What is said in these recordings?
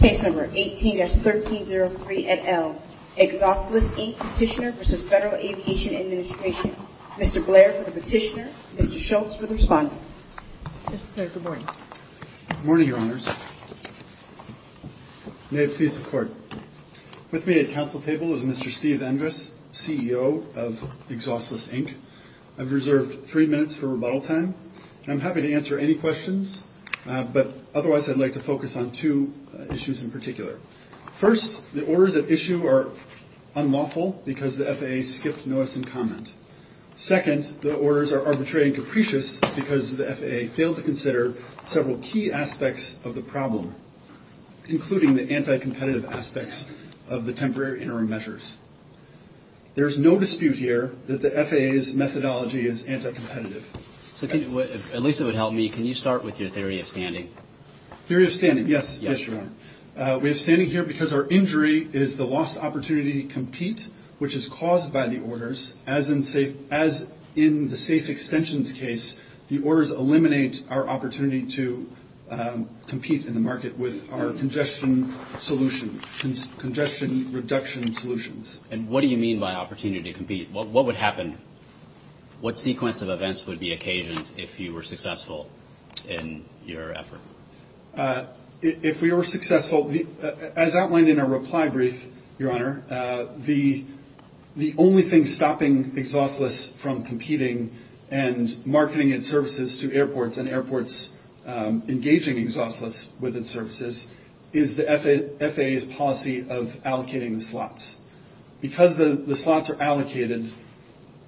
Case No. 18-1303 et al. Exhaustless Inc. Petitioner v. Federal Aviation Administration. Mr. Blair for the petitioner. Mr. Schultz for the respondent. Mr. Blair, good morning. Good morning, Your Honors. May it please the Court. With me at council table is Mr. Steve Endress, CEO of Exhaustless Inc. I've reserved three minutes for rebuttal time. I'm happy to answer any questions, but otherwise I'd like to focus on two issues in particular. First, the orders at issue are unlawful because the FAA skipped notice and comment. Second, the orders are arbitrary and capricious because the FAA failed to consider several key aspects of the problem, including the anti-competitive aspects of the temporary interim measures. There's no dispute here that the FAA's methodology is anti-competitive. At least it would help me. Can you start with your theory of standing? Theory of standing, yes. Yes, Your Honor. We have standing here because our injury is the lost opportunity to compete, which is caused by the orders, as in the safe extensions case, the orders eliminate our opportunity to compete in the market with our congestion solution, congestion reduction solutions. And what do you mean by opportunity to compete? What would happen? What sequence of events would be occasioned if you were successful in your effort? If we were successful, as outlined in our reply brief, Your Honor, the only thing stopping Exhaustless from competing and marketing its services to airports and airports engaging Exhaustless with its services is the FAA's policy of allocating the slots. Because the slots are allocated,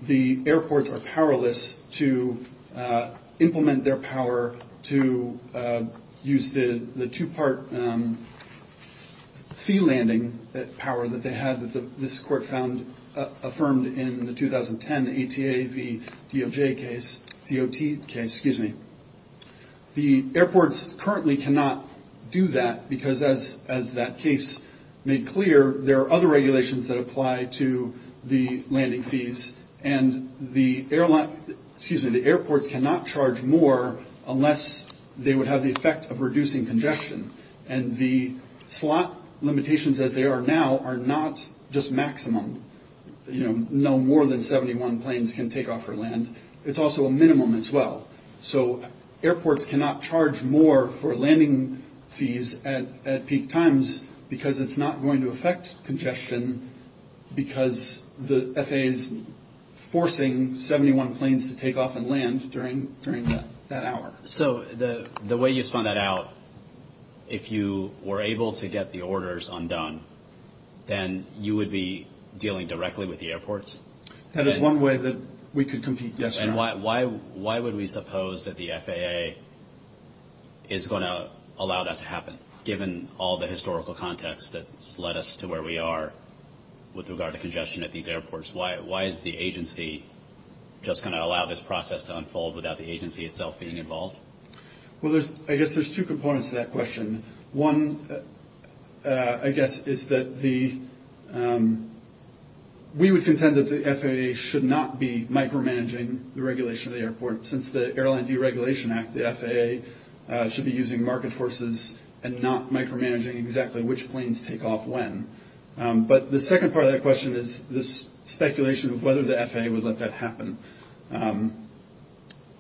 the airports are powerless to implement their power to use the two-part fee landing power that they had, that this court found affirmed in the 2010 ATA v. DOJ case, DOT case, excuse me. The airports currently cannot do that because, as that case made clear, there are other regulations that apply to the landing fees, and the airports cannot charge more unless they would have the effect of reducing congestion. And the slot limitations as they are now are not just maximum, no more than 71 planes can take off or land. It's also a minimum as well. So airports cannot charge more for landing fees at peak times because it's not going to affect congestion because the FAA is forcing 71 planes to take off and land during that hour. So the way you spun that out, if you were able to get the orders undone, then you would be dealing directly with the airports? That is one way that we could compete, yes or no. And why would we suppose that the FAA is going to allow that to happen, given all the historical context that's led us to where we are with regard to congestion at these airports? Why is the agency just going to allow this process to unfold without the agency itself being involved? Well, I guess there's two components to that question. One, I guess, is that we would contend that the FAA should not be micromanaging the regulation of the airport. Since the Airline Deregulation Act, the FAA should be using market forces and not micromanaging exactly which planes take off when. But the second part of that question is this speculation of whether the FAA would let that happen.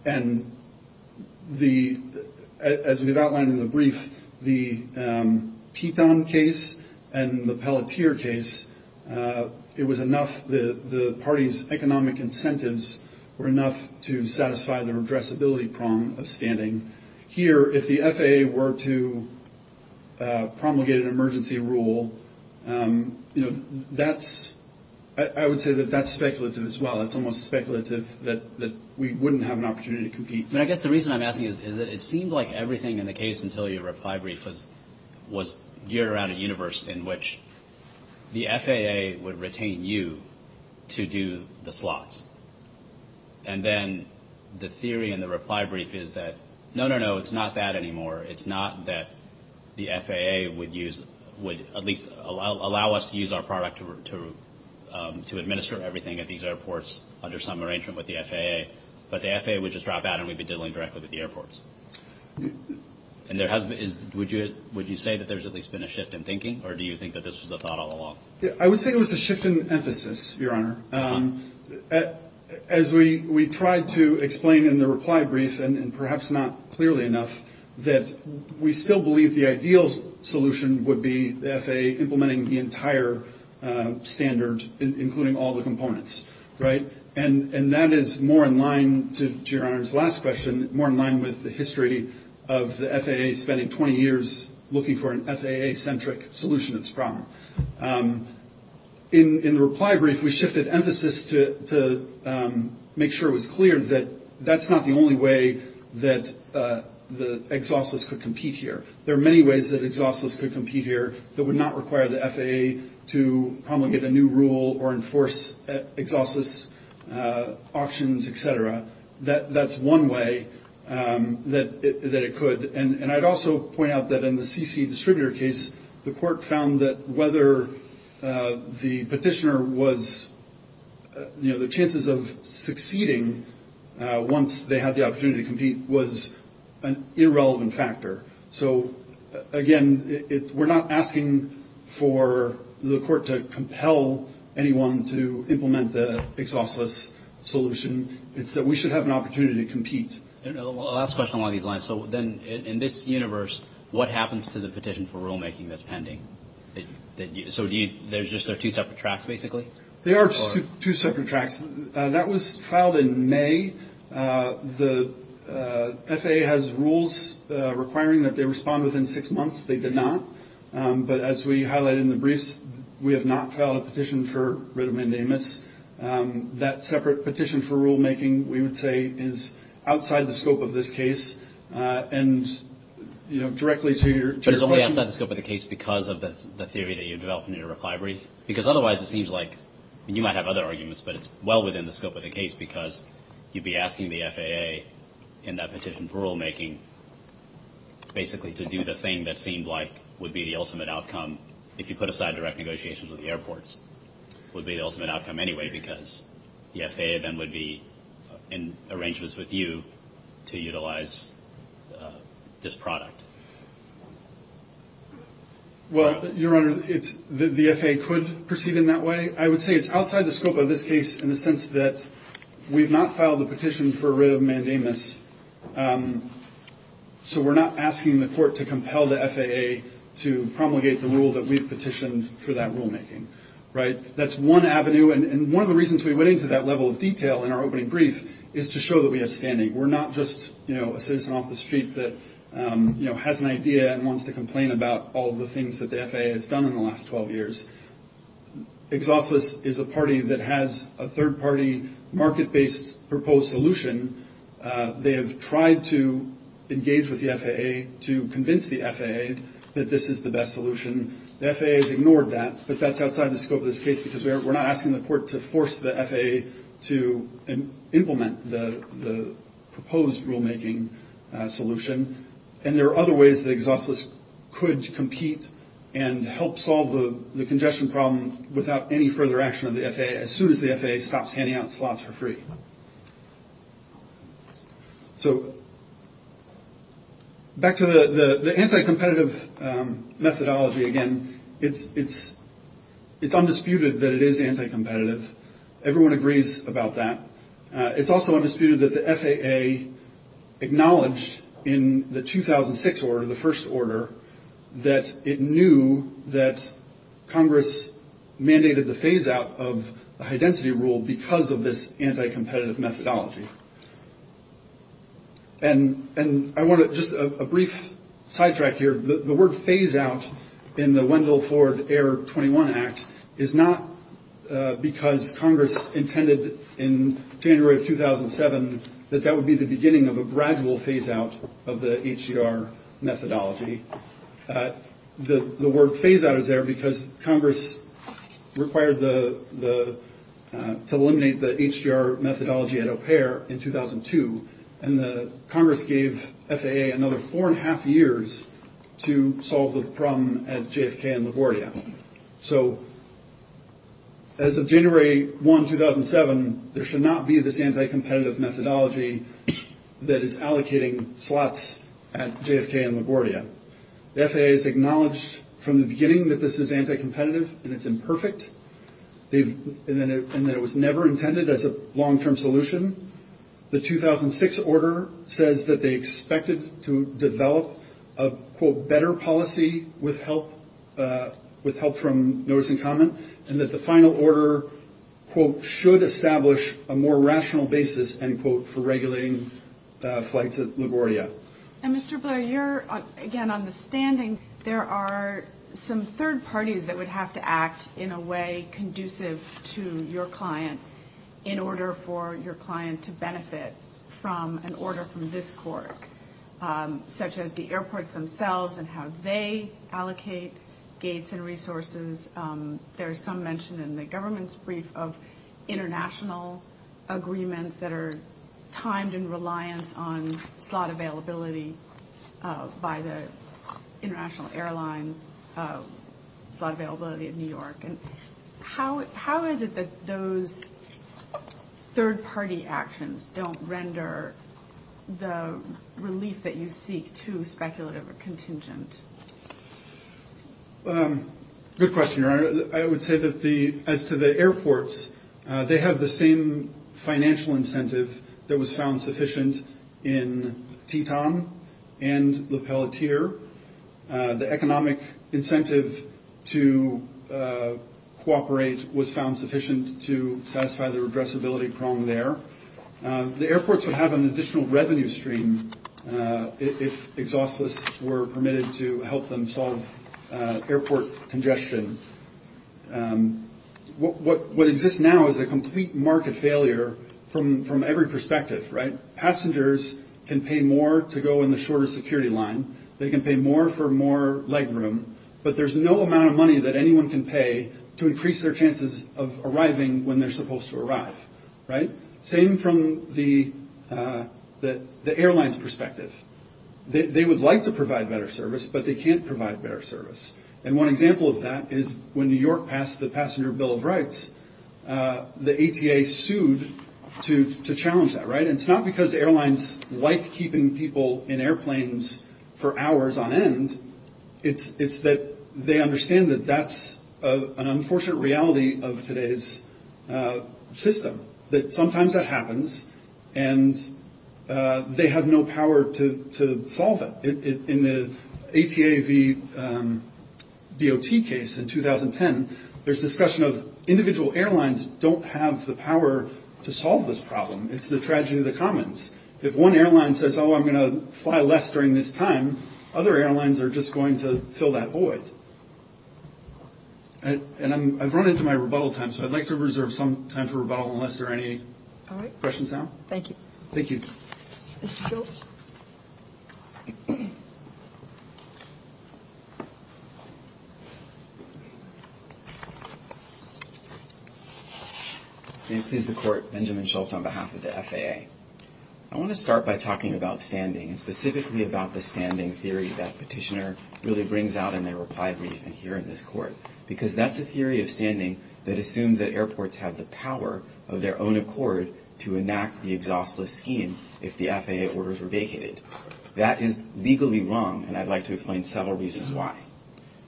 And as we've outlined in the brief, the Teton case and the Pelletier case, it was enough that the party's economic incentives were enough to satisfy the redressability prong of standing. Here, if the FAA were to promulgate an emergency rule, I would say that that's speculative as well. It's almost speculative that we wouldn't have an opportunity to compete. But I guess the reason I'm asking is that it seemed like everything in the case until your reply brief was geared around a universe in which the FAA would retain you to do the slots. And then the theory in the reply brief is that, no, no, no, it's not that anymore. It's not that the FAA would use, would at least allow us to use our product to administer everything at these airports under some arrangement with the FAA, but the FAA would just drop out and we'd be dealing directly with the airports. And would you say that there's at least been a shift in thinking, or do you think that this was the thought all along? I would say it was a shift in emphasis, Your Honor. As we tried to explain in the reply brief, and perhaps not clearly enough, that we still believe the ideal solution would be the FAA implementing the entire standard, including all the components. And that is more in line, to Your Honor's last question, more in line with the history of the FAA spending 20 years looking for an FAA-centric solution to this problem. In the reply brief, we shifted emphasis to make sure it was clear that that's not the only way that the exhaustless could compete here. There are many ways that exhaustless could compete here that would not require the FAA to promulgate a new rule or enforce exhaustless auctions, et cetera. That's one way that it could. And I'd also point out that in the CC distributor case, the court found that whether the petitioner was, you know, the chances of succeeding once they had the opportunity to compete was an irrelevant factor. So, again, we're not asking for the court to compel anyone to implement the exhaustless solution. It's that we should have an opportunity to compete. Last question along these lines. So then in this universe, what happens to the petition for rulemaking that's pending? So there's just two separate tracks, basically? There are two separate tracks. That was filed in May. The FAA has rules requiring that they respond within six months. They did not. But as we highlighted in the briefs, we have not filed a petition for writ of mandamus. That separate petition for rulemaking, we would say, is outside the scope of this case. And, you know, directly to your question. But it's only outside the scope of the case because of the theory that you developed in your reply brief? Because otherwise it seems like, and you might have other arguments, but it's well within the scope of the case because you'd be asking the FAA in that petition for rulemaking, basically to do the thing that seemed like would be the ultimate outcome, if you put aside direct negotiations with the airports, would be the ultimate outcome anyway because the FAA then would be in arrangements with you to utilize this product. Well, Your Honor, the FAA could proceed in that way. I would say it's outside the scope of this case in the sense that we've not filed a petition for writ of mandamus. So we're not asking the court to compel the FAA to promulgate the rule that we've petitioned for that rulemaking. Right. That's one avenue. And one of the reasons we went into that level of detail in our opening brief is to show that we have standing. We're not just a citizen off the street that has an idea and wants to complain about all the things that the FAA has done in the last 12 years. Exhaustless is a party that has a third party market based proposed solution. They have tried to engage with the FAA to convince the FAA that this is the best solution. The FAA has ignored that. But that's outside the scope of this case because we're not asking the court to force the FAA to implement the proposed rulemaking solution. And there are other ways that exhaustless could compete and help solve the congestion problem without any further action of the FAA. As soon as the FAA stops handing out slots for free. So. Back to the anti-competitive methodology again, it's it's it's undisputed that it is anti-competitive. Everyone agrees about that. It's also undisputed that the FAA acknowledged in the 2006 or the first order that it knew that Congress mandated the phase out of high density rule because of this anti-competitive methodology. And and I want to just a brief sidetrack here. The word phase out in the Wendell Ford Air 21 Act is not because Congress intended in January of 2007 that that would be the beginning of a gradual phase out of the HDR methodology. The word phase out is there because Congress required the the to eliminate the HDR methodology at O'Hare in 2002. And the Congress gave FAA another four and a half years to solve the problem at JFK and LaGuardia. So. As of January 1, 2007, there should not be this anti-competitive methodology that is allocating slots at JFK and LaGuardia. The FAA has acknowledged from the beginning that this is anti-competitive and it's imperfect. And that it was never intended as a long term solution. The 2006 order says that they expected to develop a quote better policy with help with help from notice and comment. And that the final order quote should establish a more rational basis and quote for regulating flights at LaGuardia. And Mr. Blair, you're again on the standing. There are some third parties that would have to act in a way conducive to your client in order for your client to benefit from an order from this court, such as the airports themselves and how they allocate gates and resources. There's some mention in the government's brief of international agreements that are timed in reliance on slot availability by the International Airlines slot availability of New York. And how how is it that those third party actions don't render the relief that you seek to speculative contingent? Good question. I would say that the as to the airports, they have the same financial incentive that was found sufficient in Teton and the Pelletier. The economic incentive to cooperate was found sufficient to satisfy the addressability prong there. The airports would have an additional revenue stream if exhaustless were permitted to help them solve airport congestion. What what exists now is a complete market failure from from every perspective. Right. Passengers can pay more to go in the shorter security line. They can pay more for more leg room. But there's no amount of money that anyone can pay to increase their chances of arriving when they're supposed to arrive. Right. Same from the the airlines perspective. They would like to provide better service, but they can't provide better service. And one example of that is when New York passed the passenger Bill of Rights, the ATA sued to to challenge that. Right. It's not because airlines like keeping people in airplanes for hours on end. It's that they understand that that's an unfortunate reality of today's system. Sometimes that happens and they have no power to solve it. In the ATA, the DOT case in 2010, there's discussion of individual airlines don't have the power to solve this problem. It's the tragedy of the commons. If one airline says, oh, I'm going to fly less during this time. Other airlines are just going to fill that void. And I've run into my rebuttal time. So I'd like to reserve some time for rebuttal unless there are any questions now. Thank you. Thank you. Please, the court. Benjamin Schultz on behalf of the FAA. I want to start by talking about standing and specifically about the standing theory that petitioner really brings out in their reply briefing here in this court, because that's a theory of standing that assumes that airports have the power of their own accord to enact the exhaustless scheme. If the FAA orders were vacated, that is legally wrong. And I'd like to explain several reasons why.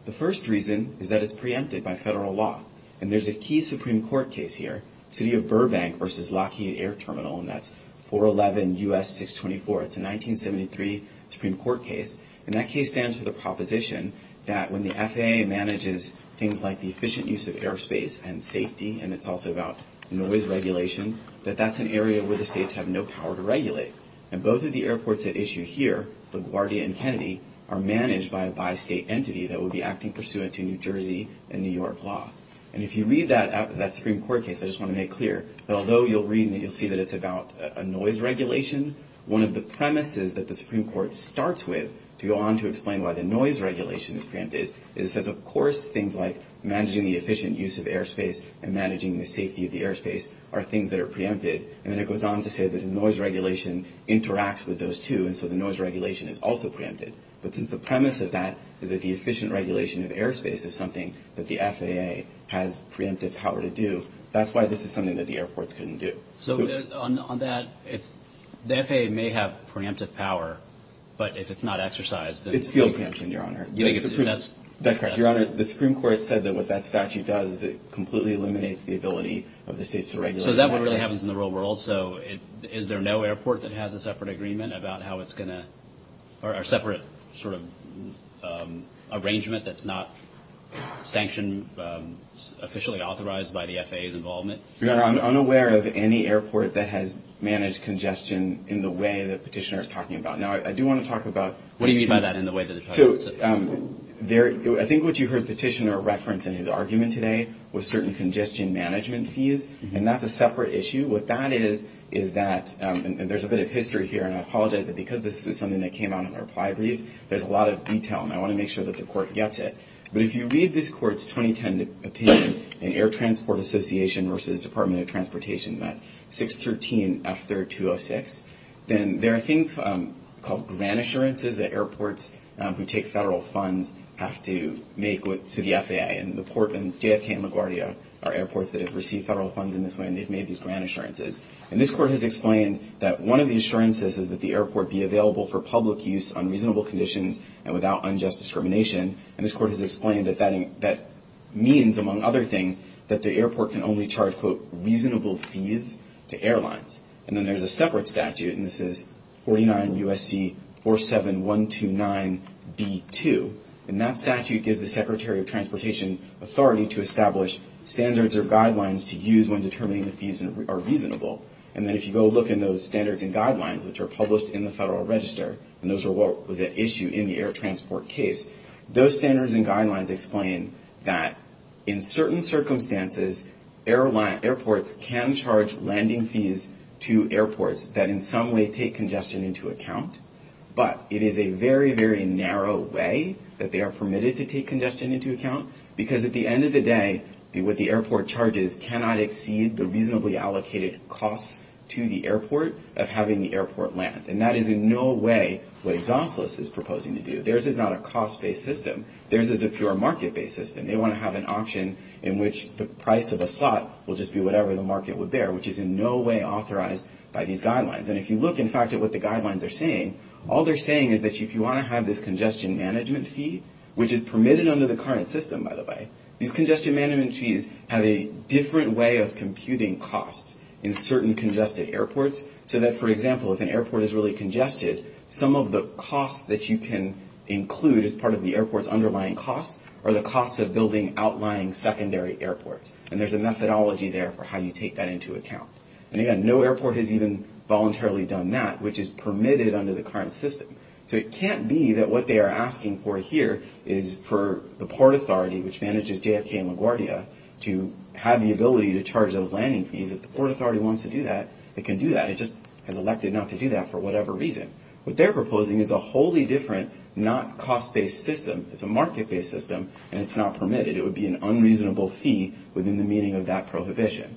The first reason is that it's preempted by federal law. And there's a key Supreme Court case here. City of Burbank versus Lockheed Air Terminal. And that's 411 U.S. 624. It's a 1973 Supreme Court case. And that case stands for the proposition that when the FAA manages things like the efficient use of airspace and safety, and it's also about noise regulation, that that's an area where the states have no power to regulate. And both of the airports at issue here, LaGuardia and Kennedy, are managed by a bi-state entity that will be acting pursuant to New Jersey and New York law. And if you read that Supreme Court case, I just want to make clear that although you'll read and you'll see that it's about a noise regulation, one of the premises that the Supreme Court starts with to go on to explain why the noise regulation is preempted, is it says, of course, things like managing the efficient use of airspace and managing the safety of the airspace are things that are preempted. And then it goes on to say that the noise regulation interacts with those two. And so the noise regulation is also preempted. But since the premise of that is that the efficient regulation of airspace is something that the FAA has preemptive power to do, that's why this is something that the airports couldn't do. So on that, if the FAA may have preemptive power, but if it's not exercised, then... It's field preemption, Your Honor. That's correct. Your Honor, the Supreme Court said that what that statute does is it completely eliminates the ability of the states to regulate airspace. So is that what really happens in the real world? So is there no airport that has a separate agreement about how it's going to... Or a separate sort of arrangement that's not sanctioned, officially authorized by the FAA's involvement? Your Honor, I'm unaware of any airport that has managed congestion in the way that Petitioner is talking about. Now, I do want to talk about... What do you mean by that, in the way that they're talking about? So I think what you heard Petitioner reference in his argument today was certain congestion management fees. And that's a separate issue. What that is, is that... And there's a bit of history here, and I apologize that because this is something that came out in our reply brief, there's a lot of detail. And I want to make sure that the Court gets it. But if you read this Court's 2010 opinion in Air Transport Association v. Department of Transportation, that's 613F3206, then there are things called grant assurances that airports who take federal funds have to make to the FAA. And the Port and JFK and LaGuardia are airports that have received federal funds in this way, and they've made these grant assurances. And this Court has explained that one of the assurances is that the airport be available for public use on reasonable conditions and without unjust discrimination. And this Court has explained that that means, among other things, that the airport can only charge, quote, reasonable fees to airlines. And then there's a separate statute, and this is 49 U.S.C. 47129B2. And that statute gives the Secretary of Transportation authority to establish standards or guidelines to use when determining the fees are reasonable. And then if you go look in those standards and guidelines, which are published in the Federal Register, and those are what was at issue in the air transport case, those standards and guidelines explain that in certain circumstances, airports can charge landing fees to airports that in some way take congestion into account. But it is a very, very narrow way that they are permitted to take congestion into account, because at the end of the day, what the airport charges cannot exceed the reasonably allocated costs to the airport of having the airport land. And that is in no way what Exosilus is proposing to do. Theirs is not a cost-based system. Theirs is a pure market-based system. They want to have an option in which the price of a slot will just be whatever the market would bear, which is in no way authorized by these guidelines. And if you look, in fact, at what the guidelines are saying, all they're saying is that if you want to have this congestion management fee, which is permitted under the current system, by the way, these congestion management fees have a different way of computing costs in certain congested airports, so that, for example, if an airport is really congested, some of the costs that you can include as part of the airport's underlying costs are the costs of building outlying secondary airports. And there's a methodology there for how you take that into account. And, again, no airport has even voluntarily done that, which is permitted under the current system. So it can't be that what they are asking for here is for the Port Authority, which manages JFK and LaGuardia, to have the ability to charge those landing fees. If the Port Authority wants to do that, it can do that. It just has elected not to do that for whatever reason. What they're proposing is a wholly different, not cost-based system. It's a market-based system, and it's not permitted. It would be an unreasonable fee within the meaning of that prohibition.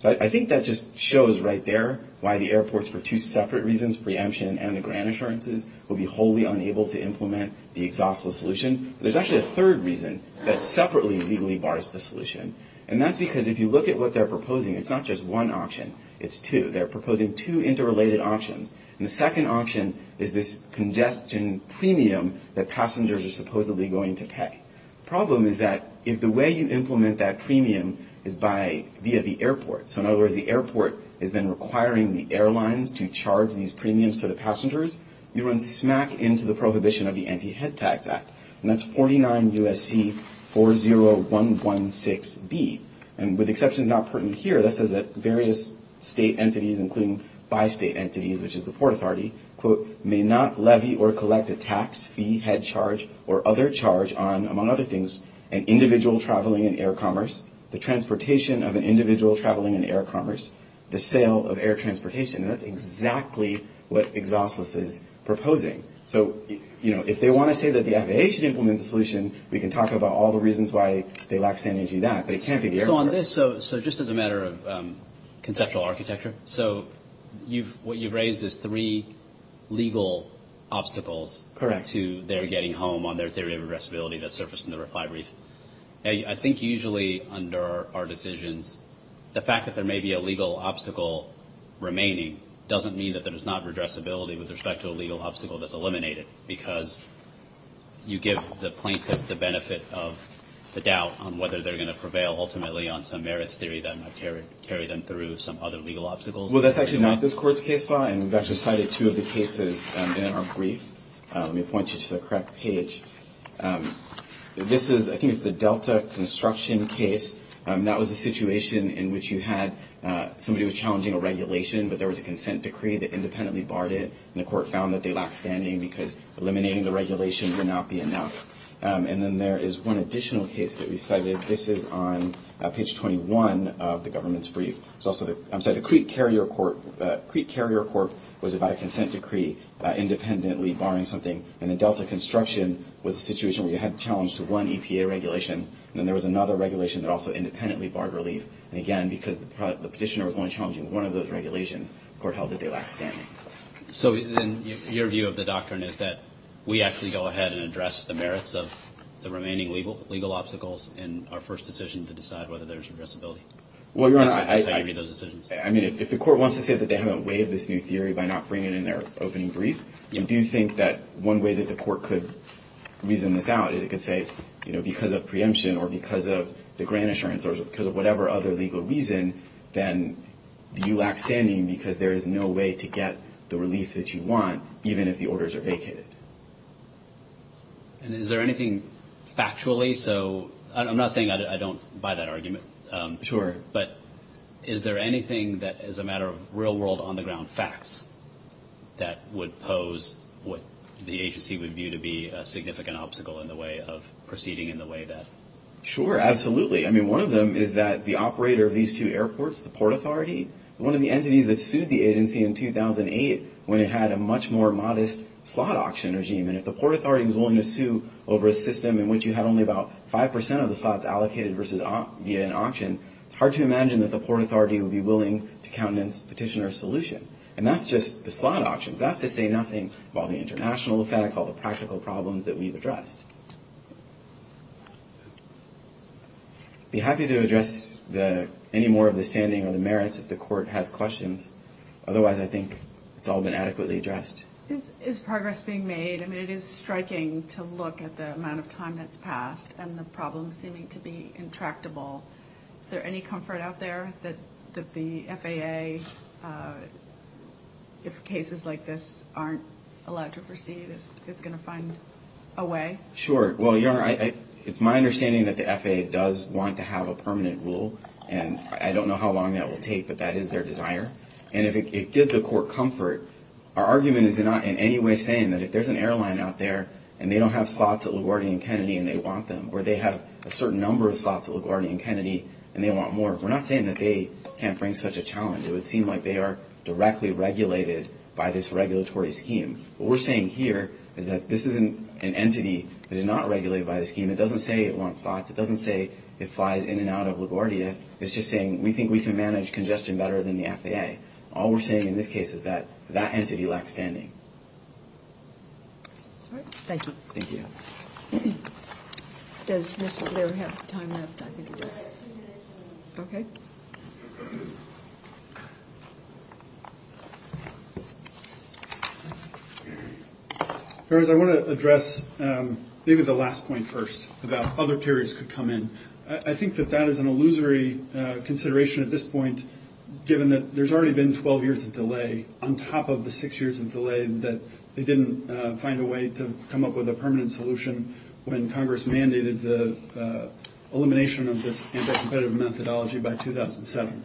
So I think that just shows right there why the airports, for two separate reasons, preemption and the grant assurances, would be wholly unable to implement the exhaustless solution. There's actually a third reason that separately legally bars the solution. And that's because if you look at what they're proposing, it's not just one option. It's two. They're proposing two interrelated options. And the second option is this congestion premium that passengers are supposedly going to pay. The problem is that if the way you implement that premium is via the airport, so in other words, the airport has been requiring the airlines to charge these premiums to the passengers, you run smack into the prohibition of the Anti-Head Tax Act. And that's 49 U.S.C. 40116B. And with exceptions not pertinent here, that says that various state entities, including bi-state entities, which is the Port Authority, quote, may not levy or collect a tax, fee, head charge, or other charge on, among other things, an individual traveling in air commerce, the transportation of an individual traveling in air commerce, the sale of air transportation. And that's exactly what exhaustless is proposing. So, you know, if they want to say that the FAA should implement the solution, we can talk about all the reasons why they lack sanity to do that. But it can't be the airport. So just as a matter of conceptual architecture, so what you've raised is three legal obstacles to their getting home on their theory of addressability that surfaced in the reply brief. I think usually under our decisions, the fact that there may be a legal obstacle remaining doesn't mean that there is not redressability with respect to a legal obstacle that's eliminated, because you give the plaintiff the benefit of the doubt on whether they're going to prevail ultimately on some merits theory that might carry them through some other legal obstacles. Well, that's actually not this court's case law, and we've actually cited two of the cases in our brief. Let me point you to the correct page. This is, I think it's the Delta construction case. That was a situation in which you had somebody who was challenging a regulation, but there was a consent decree that independently barred it, and the court found that they lacked sanity because eliminating the regulation would not be enough. And then there is one additional case that we cited. This is on page 21 of the government's brief. I'm sorry, the Crete Carrier Court was about a consent decree independently barring something, and the Delta construction was a situation where you had to challenge to one EPA regulation, and then there was another regulation that also independently barred relief. And again, because the petitioner was only challenging one of those regulations, the court held that they lacked sanity. So then your view of the doctrine is that we actually go ahead and address the merits of the remaining legal obstacles in our first decision to decide whether there's addressability. That's how you read those decisions. I mean, if the court wants to say that they haven't waived this new theory by not bringing it in their opening brief, do you think that one way that the court could reason this out is it could say, you know, because of preemption or because of the grant assurance or because of whatever other legal reason, then you lack sanity because there is no way to get the relief that you want, even if the orders are vacated. And is there anything factually? So I'm not saying I don't buy that argument. Sure. But is there anything that is a matter of real world on the ground facts that would pose what the agency would view to be a significant obstacle in the way of proceeding in the way that? Sure, absolutely. I mean, one of them is that the operator of these two airports, the Port Authority, one of the entities that sued the agency in 2008 when it had a much more modest slot auction regime. And if the Port Authority was willing to sue over a system in which you had only about 5 percent of the slots allocated versus via an auction, it's hard to imagine that the Port Authority would be willing to countenance petitioner's solution. And that's just the slot auctions. That's to say nothing of all the international facts, all the practical problems that we've addressed. I'd be happy to address any more of the standing or the merits if the court has questions. Otherwise, I think it's all been adequately addressed. Is progress being made? I mean, it is striking to look at the amount of time that's passed and the problems seeming to be intractable. Is there any comfort out there that the FAA, if cases like this aren't allowed to proceed, is going to find a way? Sure. Well, Your Honor, it's my understanding that the FAA does want to have a permanent rule, and I don't know how long that will take, but that is their desire. And if it gives the court comfort, our argument is not in any way saying that if there's an airline out there and they don't have slots at LaGuardia and Kennedy and they want them, or they have a certain number of slots at LaGuardia and Kennedy and they want more, we're not saying that they can't bring such a challenge. It would seem like they are directly regulated by this regulatory scheme. What we're saying here is that this is an entity that is not regulated by the scheme. It doesn't say it wants slots. It doesn't say it flies in and out of LaGuardia. It's just saying we think we can manage congestion better than the FAA. All we're saying in this case is that that entity lacks standing. Thank you. Thank you. Does Mr. Blair have time left? I think he does. Okay. Ferris, I want to address maybe the last point first about other periods could come in. I think that that is an illusory consideration at this point, given that there's already been 12 years of delay on top of the six years of delay that they didn't find a way to come up with a permanent solution when Congress mandated the elimination of this anti-competitive methodology by 2007.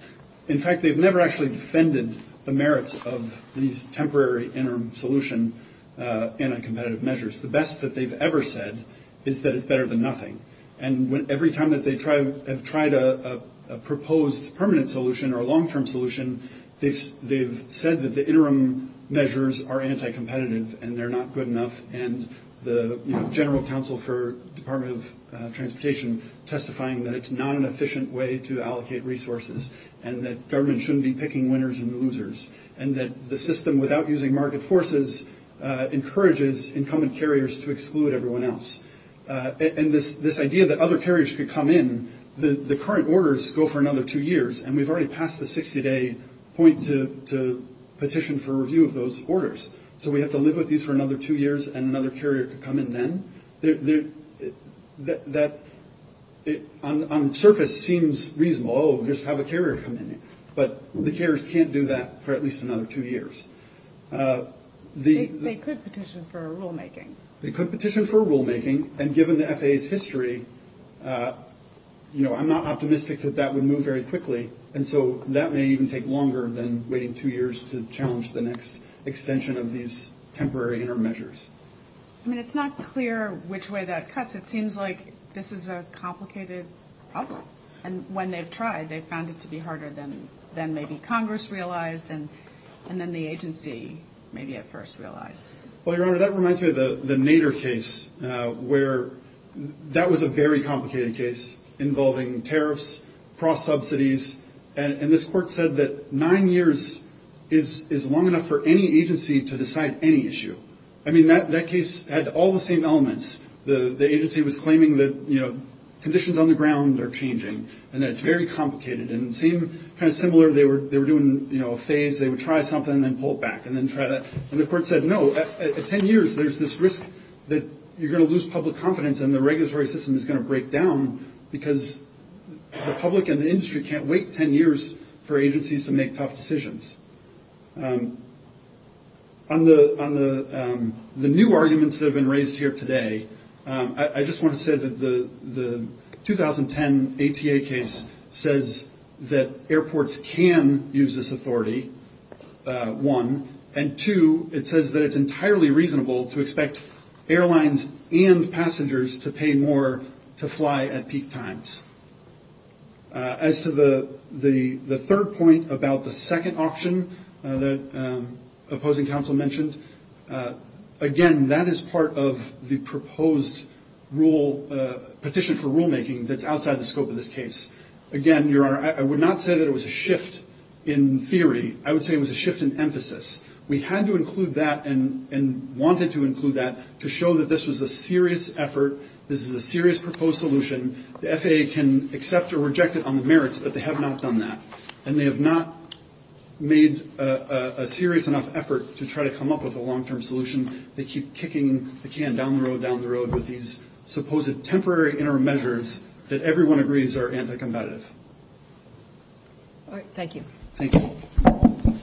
In fact, they've never actually defended the merits of these temporary interim solution anti-competitive measures. The best that they've ever said is that it's better than nothing. And every time that they have tried a proposed permanent solution or a long-term solution, they've said that the interim measures are anti-competitive and they're not good enough, and the General Counsel for Department of Transportation testifying that it's not an efficient way to allocate resources and that government shouldn't be picking winners and losers and that the system, without using market forces, encourages incumbent carriers to exclude everyone else. And this idea that other carriers could come in, the current orders go for another two years, and we've already passed the 60-day point to petition for review of those orders, so we have to live with these for another two years and another carrier could come in then, that on the surface seems reasonable. Oh, just have a carrier come in. But the carriers can't do that for at least another two years. They could petition for a rulemaking. They could petition for a rulemaking, and given the FAA's history, you know, I'm not optimistic that that would move very quickly, and so that may even take longer than waiting two years to challenge the next extension of these temporary interim measures. I mean, it's not clear which way that cuts. It seems like this is a complicated problem. And when they've tried, they've found it to be harder than maybe Congress realized and then the agency maybe at first realized. Well, Your Honor, that reminds me of the Nader case where that was a very complicated case involving tariffs, cross-subsidies, and this court said that nine years is long enough for any agency to decide any issue. I mean, that case had all the same elements. The agency was claiming that, you know, conditions on the ground are changing and that it's very complicated and it seemed kind of similar. They were doing, you know, a phase. They would try something and then pull it back and then try that. And the court said, no, at 10 years, there's this risk that you're going to lose public confidence and the regulatory system is going to break down because the public and the industry can't wait 10 years for agencies to make tough decisions. On the new arguments that have been raised here today, I just want to say that the 2010 ATA case says that airports can use this authority, one, and two, it says that it's entirely reasonable to expect airlines and passengers to pay more to fly at peak times. As to the third point about the second option that opposing counsel mentioned, again, that is part of the proposed petition for rulemaking that's outside the scope of this case. Again, Your Honor, I would not say that it was a shift in theory. I would say it was a shift in emphasis. We had to include that and wanted to include that to show that this was a serious effort. This is a serious proposed solution. The FAA can accept or reject it on the merits, but they have not done that. And they have not made a serious enough effort to try to come up with a long-term solution. They keep kicking the can down the road, down the road with these supposed temporary interim measures that everyone agrees are anti-combatant. All right. Thank you. Thank you.